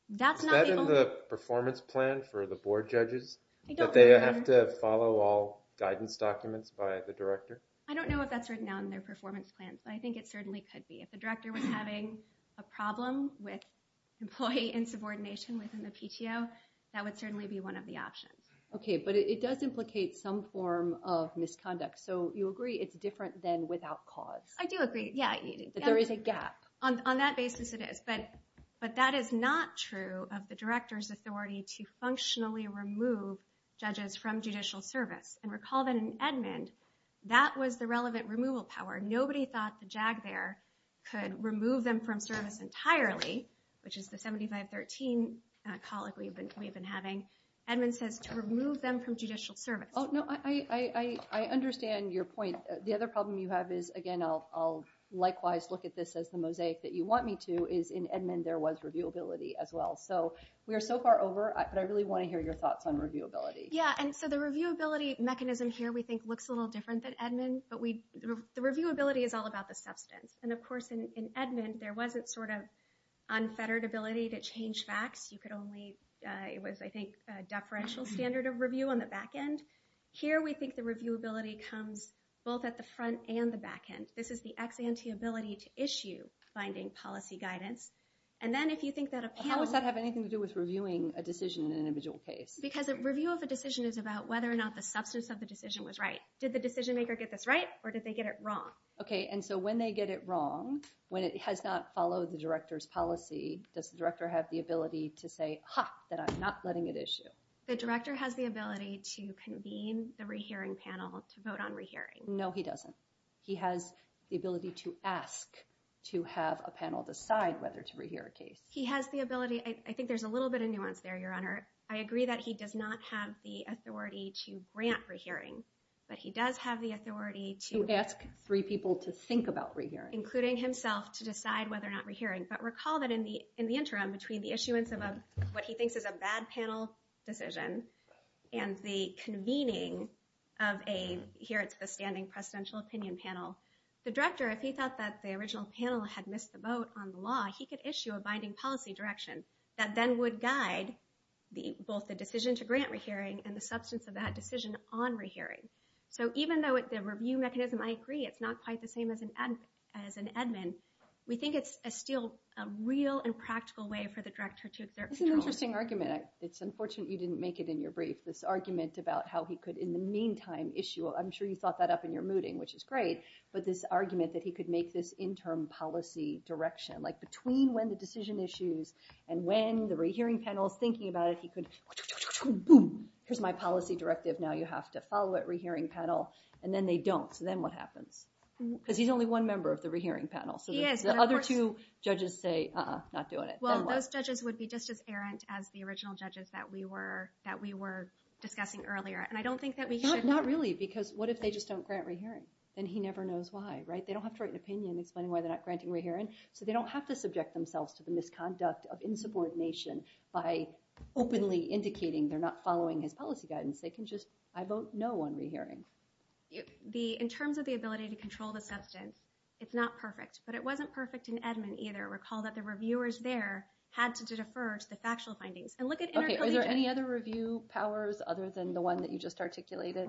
that's not the only – Is that in the performance plan for the board judges? That they have to follow all guidance documents by the director? I don't know if that's written down in their performance plan, but I think it certainly could be. If the director was having a problem with employee insubordination within the PTO, that would certainly be one of the options. Okay, but it does implicate some form of misconduct. So you agree it's different than without cause? I do agree, yeah. That there is a gap? On that basis, it is. But that is not true of the director's authority to functionally remove judges from judicial service. And recall that in Edmond, that was the relevant removal power. Nobody thought the JAG there could remove them from service entirely, which is the 7513 colleague we've been having. Edmond says to remove them from judicial service. Oh, no, I understand your point. The other problem you have is, again, I'll likewise look at this as the mosaic that you want me to, is in Edmond there was reviewability as well. So we are so far over, but I really want to hear your thoughts on reviewability. Yeah, and so the reviewability mechanism here we think looks a little different than Edmond, but the reviewability is all about the substance. And, of course, in Edmond there wasn't sort of unfettered ability to change facts. You could only, it was, I think, a deferential standard of review on the back end. Here we think the reviewability comes both at the front and the back end. This is the ex ante ability to issue finding policy guidance. And then if you think that a panel... How does that have anything to do with reviewing a decision in an individual case? Because a review of a decision is about whether or not the substance of the decision was right. Did the decision maker get this right or did they get it wrong? Okay, and so when they get it wrong, when it has not followed the director's policy, does the director have the ability to say, ha, that I'm not letting it issue? The director has the ability to convene the rehearing panel to vote on rehearing. No, he doesn't. He has the ability to ask to have a panel decide whether to rehear a case. He has the ability. I think there's a little bit of nuance there, Your Honor. I agree that he does not have the authority to grant rehearing, but he does have the authority to... To ask three people to think about rehearing. Including himself to decide whether or not rehearing. But recall that in the interim, between the issuance of what he thinks is a bad panel decision and the convening of a standing presidential opinion panel, the director, if he thought that the original panel had missed the boat on the law, he could issue a binding policy direction that then would guide both the decision to grant rehearing and the substance of that decision on rehearing. So even though the review mechanism, I agree, it's not quite the same as an admin, we think it's still a real and practical way for the director to exert control. That's an interesting argument. It's unfortunate you didn't make it in your brief, this argument about how he could, in the meantime, issue a... I'm sure you thought that up in your mooting, which is great, but this argument that he could make this interim policy direction, like between when the decision issues and when the rehearing panel is thinking about it, he could, boom, here's my policy directive, now you have to follow it, rehearing panel, and then they don't, so then what happens? Because he's only one member of the rehearing panel, so the other two judges say, uh-uh, not doing it. Well, those judges would be just as errant as the original judges that we were discussing earlier, and I don't think that we should... Not really, because what if they just don't grant rehearing? Then he never knows why, right? They don't have to write an opinion explaining why they're not granting rehearing, so they don't have to subject themselves to the misconduct of insubordination by openly indicating they're not following his policy guidance. They can just, I vote no on rehearing. In terms of the ability to control the substance, it's not perfect, but it wasn't perfect in Edmund either. Recall that the reviewers there had to defer to the factual findings. And look at intercollegiate... Okay, are there any other review powers other than the one that you just articulated?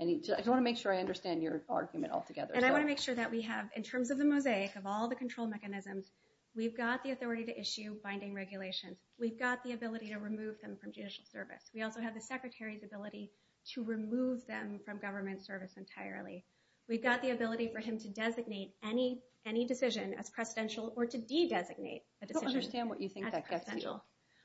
I just want to make sure I understand your argument altogether. And I want to make sure that we have, in terms of the mosaic, of all the control mechanisms, we've got the authority to issue binding regulations. We've got the ability to remove them from judicial service. We also have the secretary's ability to remove them from government service entirely. We've got the ability for him to designate any decision as precedential or to de-designate a decision as precedential. I don't understand what you think that gets you.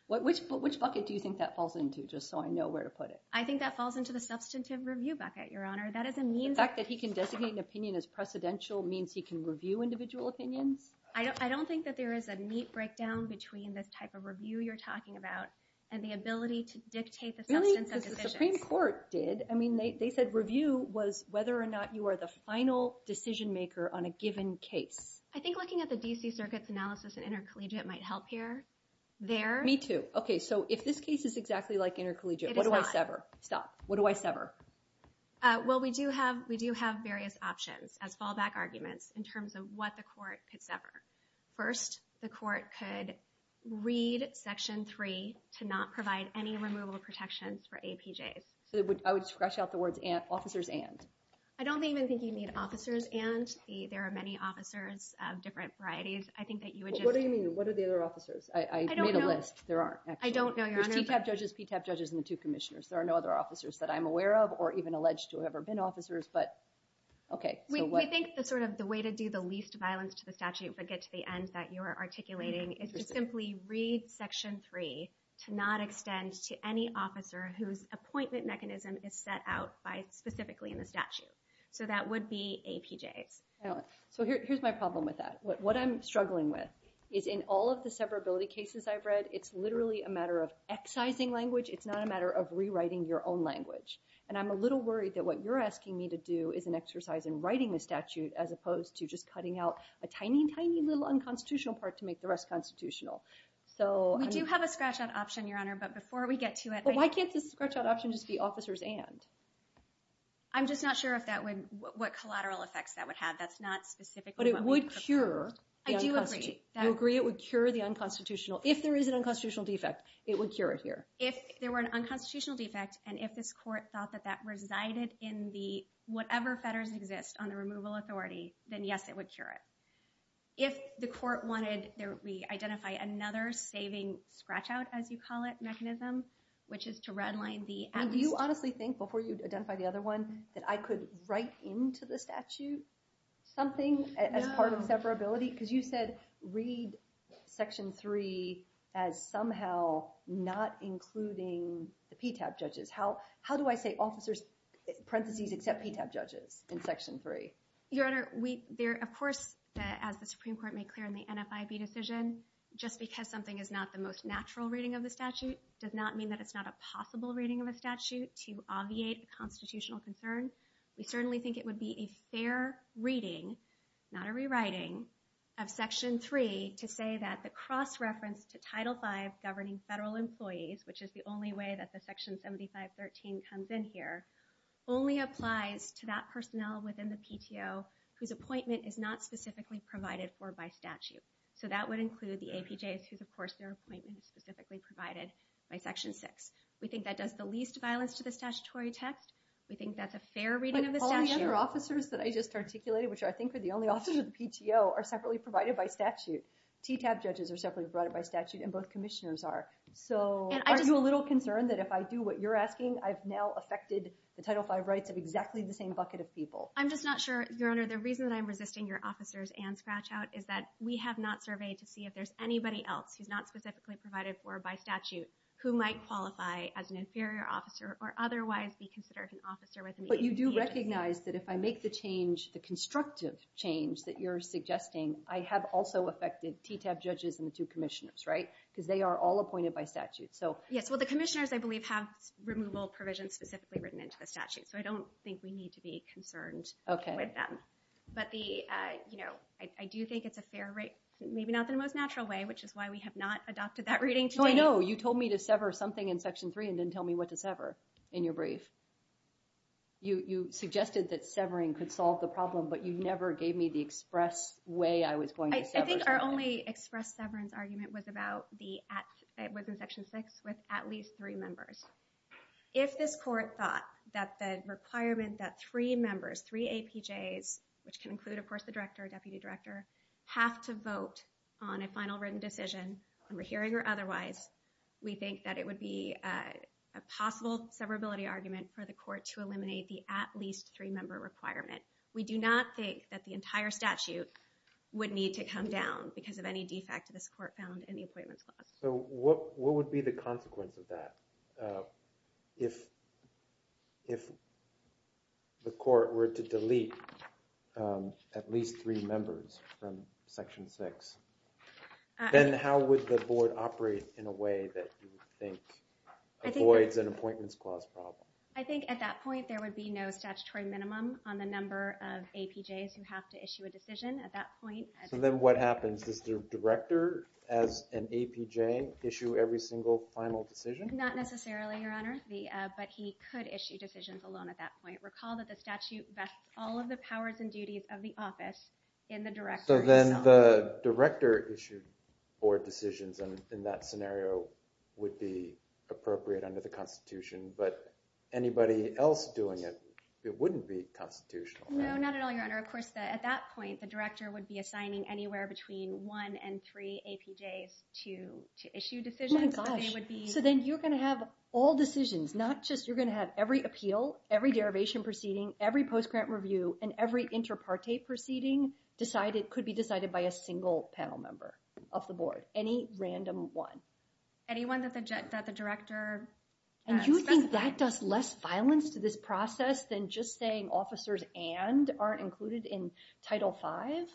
Which bucket do you think that falls into, just so I know where to put it? I think that falls into the substantive review bucket, Your Honor. The fact that he can designate an opinion as precedential means he can review individual opinions? I don't think that there is a neat breakdown between this type of review you're talking about and the ability to dictate the substance of decisions. Really? Because the Supreme Court did. I mean, they said review was whether or not you are the final decision-maker on a given case. I think looking at the D.C. Circuit's analysis and intercollegiate might help here. Me too. Okay, so if this case is exactly like intercollegiate, what do I sever? Stop. What do I sever? Well, we do have various options as fallback arguments in terms of what the court could sever. First, the court could read Section 3 to not provide any removal protections for APJs. So I would scratch out the words officers and? I don't even think you need officers and. There are many officers of different varieties. I think that you would just... What do you mean? What are the other officers? I don't know. I made a list. There aren't, actually. I don't know, Your Honor. There's TTAP judges, PTAP judges, and the two commissioners. There are no other officers that I'm aware of or even alleged to have ever been officers, but okay. We think the way to do the least violence to the statute but get to the end that you're articulating is to simply read Section 3 to not extend to any officer whose appointment mechanism is set out by specifically in the statute. So that would be APJs. So here's my problem with that. What I'm struggling with is in all of the severability cases I've read, it's literally a matter of excising language. It's not a matter of rewriting your own language. And I'm a little worried that what you're asking me to do is an exercise in writing the statute as opposed to just cutting out a tiny, tiny little unconstitutional part to make the rest constitutional. We do have a scratch-out option, Your Honor, but before we get to it... But why can't the scratch-out option just be officers and? I'm just not sure what collateral effects that would have. That's not specifically what we prefer. But it would cure the unconstitutional. I do agree. You agree it would cure the unconstitutional. If there is an unconstitutional defect, it would cure it here. If there were an unconstitutional defect and if this court thought that that resided in the whatever fetters exist on the removal authority, then yes, it would cure it. If the court wanted to re-identify another saving scratch-out, as you call it, mechanism, which is to redline the... Do you honestly think, before you identify the other one, that I could write into the statute something as part of severability? Because you said read Section 3 as somehow not including the PTAB judges. How do I say officers, parentheses, except PTAB judges in Section 3? Your Honor, of course, as the Supreme Court made clear in the NFIB decision, just because something is not the most natural reading of the statute does not mean that it's not a possible reading of a statute to obviate a constitutional concern. We certainly think it would be a fair reading, not a rewriting, of Section 3 to say that the cross-reference to Title 5 governing federal employees, which is the only way that the Section 7513 comes in here, only applies to that personnel within the PTO whose appointment is not specifically provided for by statute. So that would include the APJs, whose, of course, their appointment is specifically provided by Section 6. We think that does the least violence to the statutory text. We think that's a fair reading of the statute. But all the other officers that I just articulated, which I think are the only officers in the PTO, are separately provided by statute. TTAB judges are separately provided by statute, and both commissioners are. So are you a little concerned that if I do what you're asking, I've now affected the Title 5 rights of exactly the same bucket of people? I'm just not sure, Your Honor. The reason that I'm resisting your officers and scratch-out is that we have not surveyed to see if there's anybody else who's not specifically provided for by statute who might qualify as an inferior officer or otherwise be considered an officer within the APJs. But you do recognize that if I make the change, the constructive change that you're suggesting, I have also affected TTAB judges and the two commissioners, right? Because they are all appointed by statute. Yes, well, the commissioners, I believe, have removal provisions specifically written into the statute. So I don't think we need to be concerned with them. But I do think it's a fair rate, maybe not in the most natural way, which is why we have not adopted that reading today. No, I know. You told me to sever something in Section 3 and didn't tell me what to sever in your brief. You suggested that severing could solve the problem, but you never gave me the express way I was going to sever something. I think our only express severance argument was in Section 6 with at least three members. If this court thought that the requirement that three members, three APJs, which can include, of course, the director, deputy director, have to vote on a final written decision, in the hearing or otherwise, we think that it would be a possible severability argument for the court to eliminate the at least three member requirement. We do not think that the entire statute would need to come down because of any defect that this court found in the Appointments Clause. So what would be the consequence of that? If the court were to delete at least three members from Section 6, then how would the board operate in a way that you think avoids an Appointments Clause problem? I think at that point, there would be no statutory minimum on the number of APJs who have to issue a decision at that point. So then what happens? Does the director, as an APJ, issue every single final decision? Not necessarily, Your Honor, but he could issue decisions alone at that point. Recall that the statute vests all of the powers and duties of the office in the director himself. So then the director issued board decisions, and in that scenario, would be appropriate under the Constitution. But anybody else doing it, it wouldn't be constitutional. No, not at all, Your Honor. Of course, at that point, the director would be assigning anywhere between one and three APJs to issue decisions. Oh, my gosh. So then you're going to have all decisions, not just you're going to have every appeal, every derivation proceeding, every post-grant review, and every inter parte proceeding could be decided by a single panel member of the board, any random one. Anyone that the director specified. And you think that does less violence to this process than just saying officers and aren't included in Title 5?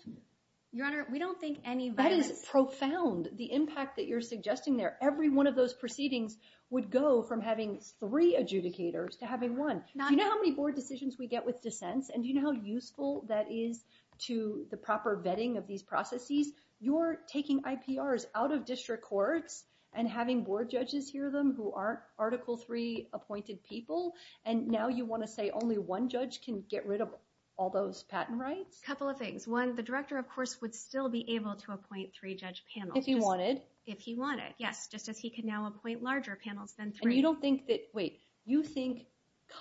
Your Honor, we don't think any violence. That is profound, the impact that you're suggesting there. Every one of those proceedings would go from having three adjudicators to having one. Do you know how many board decisions we get with dissents? And do you know how useful that is to the proper vetting of these processes? You're taking IPRs out of district courts and having board judges hear them who aren't Article III appointed people. And now you want to say only one judge can get rid of all those patent rights? A couple of things. One, the director, of course, would still be able to appoint three judge panels. If he wanted. If he wanted, yes. Just as he can now appoint larger panels than three. And you don't think that, wait, you think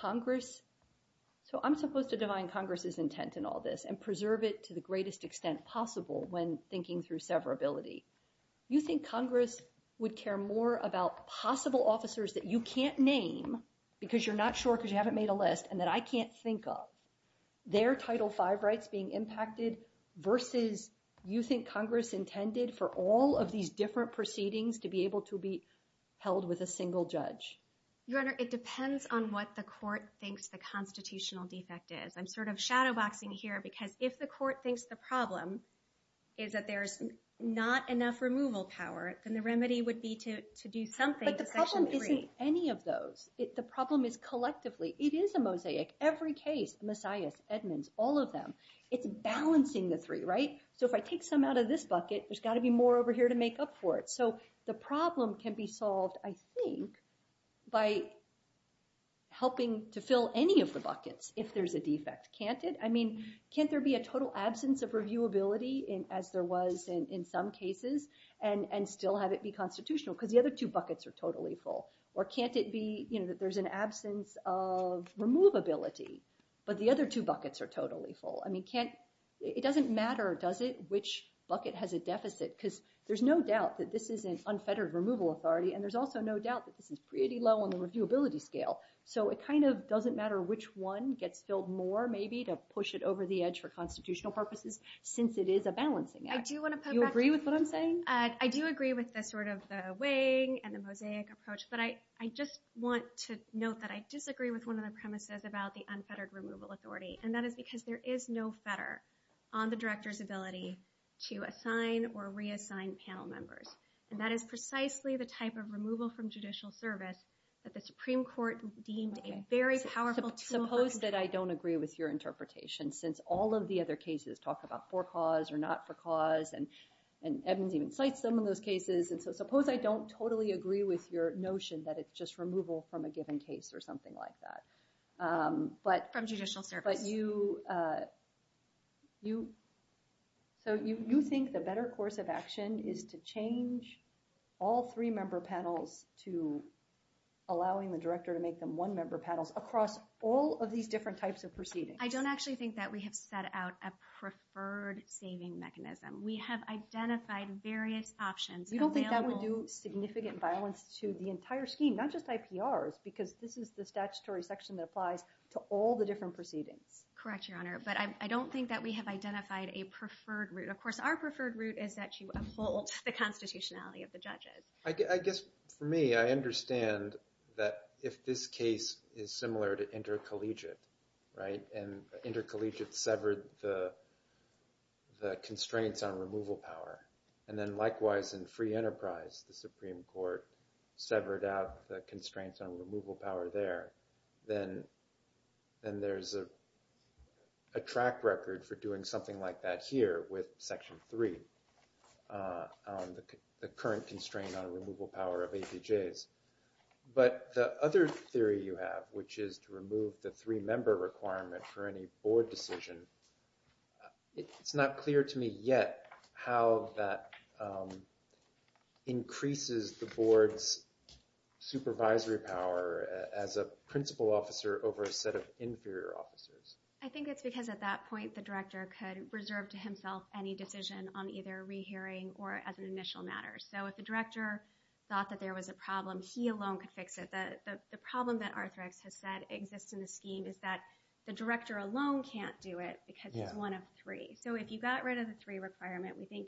Congress, so I'm supposed to divine Congress's intent in all this and preserve it to the greatest extent possible when thinking through severability. You think Congress would care more about possible officers that you can't name because you're not sure because you haven't made a list and that I can't think of. Their Title V rights being impacted versus you think Congress intended for all of these different proceedings to be able to be held with a single judge? Your Honor, it depends on what the court thinks the constitutional defect is. I'm sort of shadowboxing here because if the court thinks the problem is that there is not enough removal power, then the remedy would be to do something to Section III. But the problem isn't any of those. The problem is collectively. It is a mosaic. Every case, the Messiahs, Edmonds, all of them, it's balancing the three. So if I take some out of this bucket, there's got to be more over here to make up for it. So the problem can be solved, I think, by helping to fill any of the buckets if there's a defect. Can't it? I mean, can't there be a total absence of reviewability as there was in some cases and still have it be constitutional because the other two buckets are totally full? Or can't it be that there's an absence of removability, but the other two buckets are totally full? I mean, it doesn't matter, does it, which bucket has a deficit? Because there's no doubt that this is an unfettered removal authority. And there's also no doubt that this is pretty low on the reviewability scale. So it kind of doesn't matter which one gets filled more, maybe, to push it over the edge for constitutional purposes since it is a balancing act. I do want to put back to you. You agree with what I'm saying? I do agree with the weighing and the mosaic approach. But I just want to note that I disagree with one of the premises about the unfettered removal authority. And that is because there is no fetter on the director's ability to assign or reassign panel members. And that is precisely the type of removal from judicial service that the Supreme Court deemed a very powerful tool. Suppose that I don't agree with your interpretation since all of the other cases talk about for cause or not for cause. And Evans even cites some of those cases. And so suppose I don't totally agree with your notion that it's just removal from a given case or something like that. From judicial service. But you think the better course of action is to change all three member panels to allowing the director to make them one member panels across all of these different types of proceedings. I don't actually think that we have set out a preferred saving mechanism. We have identified various options. You don't think that would do significant violence to the entire scheme, not just IPRs, because this is the statutory section that applies to all the different proceedings. Correct, Your Honor. But I don't think that we have identified a preferred route. Of course, our preferred route is that you uphold the constitutionality of the judges. I guess for me, I understand that if this case is similar to intercollegiate, and intercollegiate severed the constraints on removal power, and then likewise in free enterprise, the Supreme Court severed out the constraints on removal power there, then there's a track record for doing something like that here with Section 3, the current constraint on removal power of APJs. But the other theory you have, which is to remove the three member requirement for any board decision, it's not clear to me yet how that increases the board's supervisory power as a principal officer over a set of inferior officers. I think it's because at that point, the director could reserve to himself any decision on either rehearing or as an initial matter. So if the director thought that there was a problem, he alone could fix it. The problem that Arthrex has said exists in the scheme is that the director alone can't do it because it's one of three. So if you got rid of the three requirement, we think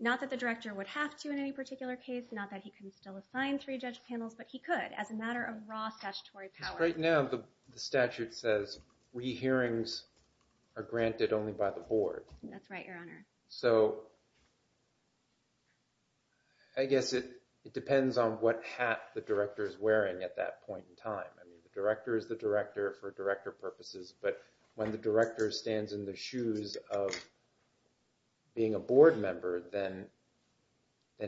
not that the director would have to in any particular case, not that he can still assign three judge panels, but he could as a matter of raw statutory power. Because right now, the statute says rehearings are granted only by the board. That's right, Your Honor. So I guess it depends on what hat the director is wearing at that point in time. The director is the director for director purposes. But when the director stands in the shoes of being a board member, then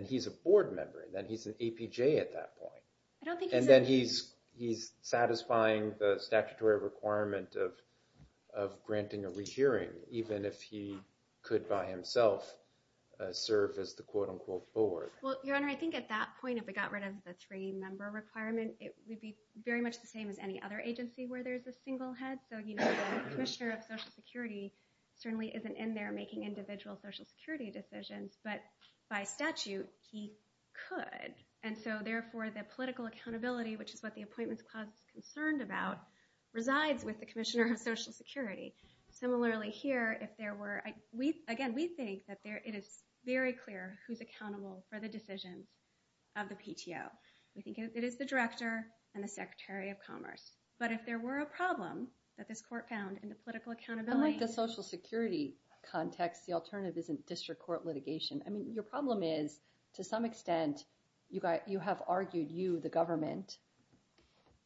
he's a board member. Then he's an APJ at that point. And then he's satisfying the statutory requirement of granting a rehearing, even if he could by himself serve as the quote, unquote, board. Well, Your Honor, I think at that point, if we got rid of the three-member requirement, it would be very much the same as any other agency where there is a single head. So the commissioner of Social Security certainly isn't in there making individual Social Security decisions. But by statute, he could. And so therefore, the political accountability, which is what the Appointments Clause is concerned about, resides with the commissioner of Social Security. Similarly here, again, we think that it is very clear who's accountable for the decisions of the PTO. We think it is the director and the secretary of commerce. But if there were a problem that this court found in the political accountability. Unlike the Social Security context, the alternative isn't district court litigation. I mean, your problem is, to some extent, you have argued, you, the government,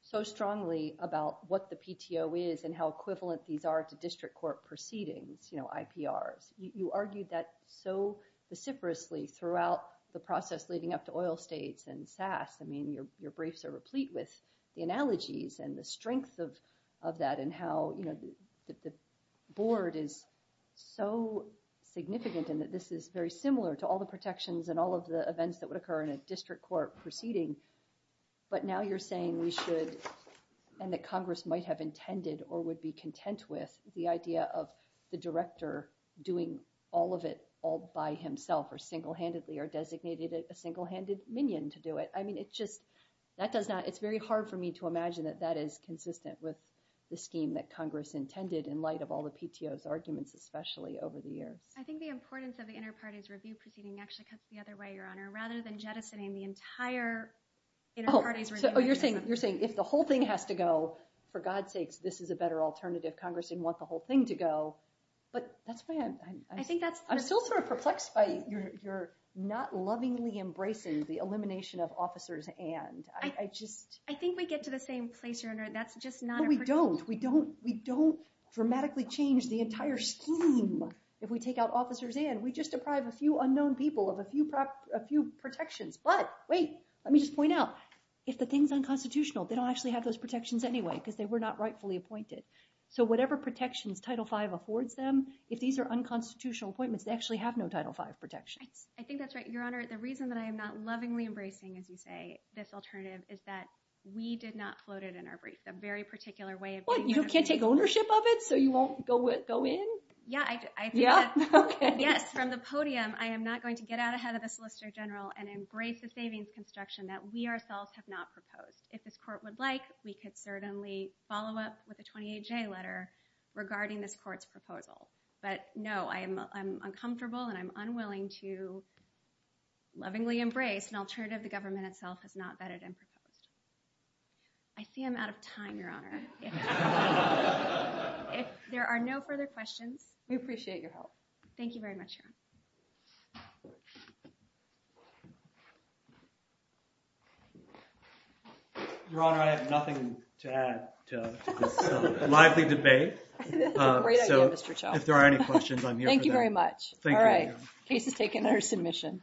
so strongly about what the PTO is and how equivalent these are to district court proceedings, IPRs. You argued that so vociferously throughout the process leading up to oil states and SAS. I mean, your briefs are replete with the analogies and the strength of that and how the board is so significant and that this is very similar to all the protections and all of the events that would occur in a district court proceeding. But now you're saying we should, and that Congress might have intended or would be content with the idea of the director doing all of it all by himself or single handedly or designated a single-handed minion to do it. It's very hard for me to imagine that that is consistent with the scheme that Congress intended in light of all the PTO's arguments, especially over the years. I think the importance of the inter-parties review proceeding actually cuts the other way, Your Honor, rather than jettisoning the entire inter-parties review. So you're saying if the whole thing has to go, for God's sakes, this is a better alternative. Congress didn't want the whole thing to go. But that's why I'm still sort of perplexed by your not lovingly embracing the elimination of officers and. I just. I think we get to the same place, Your Honor. That's just not a particular. No, we don't. We don't dramatically change the entire scheme if we take out officers and. We just deprive a few unknown people of a few protections. But wait, let me just point out, if the thing's unconstitutional, they don't actually have those protections anyway, because they were not rightfully appointed. So whatever protections Title V affords them, if these are unconstitutional appointments, they actually have no Title V protections. I think that's right, Your Honor. The reason that I am not lovingly embracing, as you say, this alternative is that we did not float it in our brief. A very particular way of. What? You can't take ownership of it, so you won't go in? Yeah. Yeah? Yes, from the podium, I am not going to get out ahead of the Solicitor General and embrace the savings construction that we ourselves have not proposed. If this court would like, we could certainly follow up with a 28-J letter regarding this court's proposal. But no, I'm uncomfortable, and I'm unwilling to lovingly embrace an alternative the government itself has not vetted and proposed. I see I'm out of time, Your Honor. If there are no further questions. We appreciate your help. Thank you very much, Your Honor. Your Honor, I have nothing to add to this lively debate. That's a great idea, Mr. Chau. So if there are any questions, I'm here for them. Thank you very much. All right, case is taken under submission.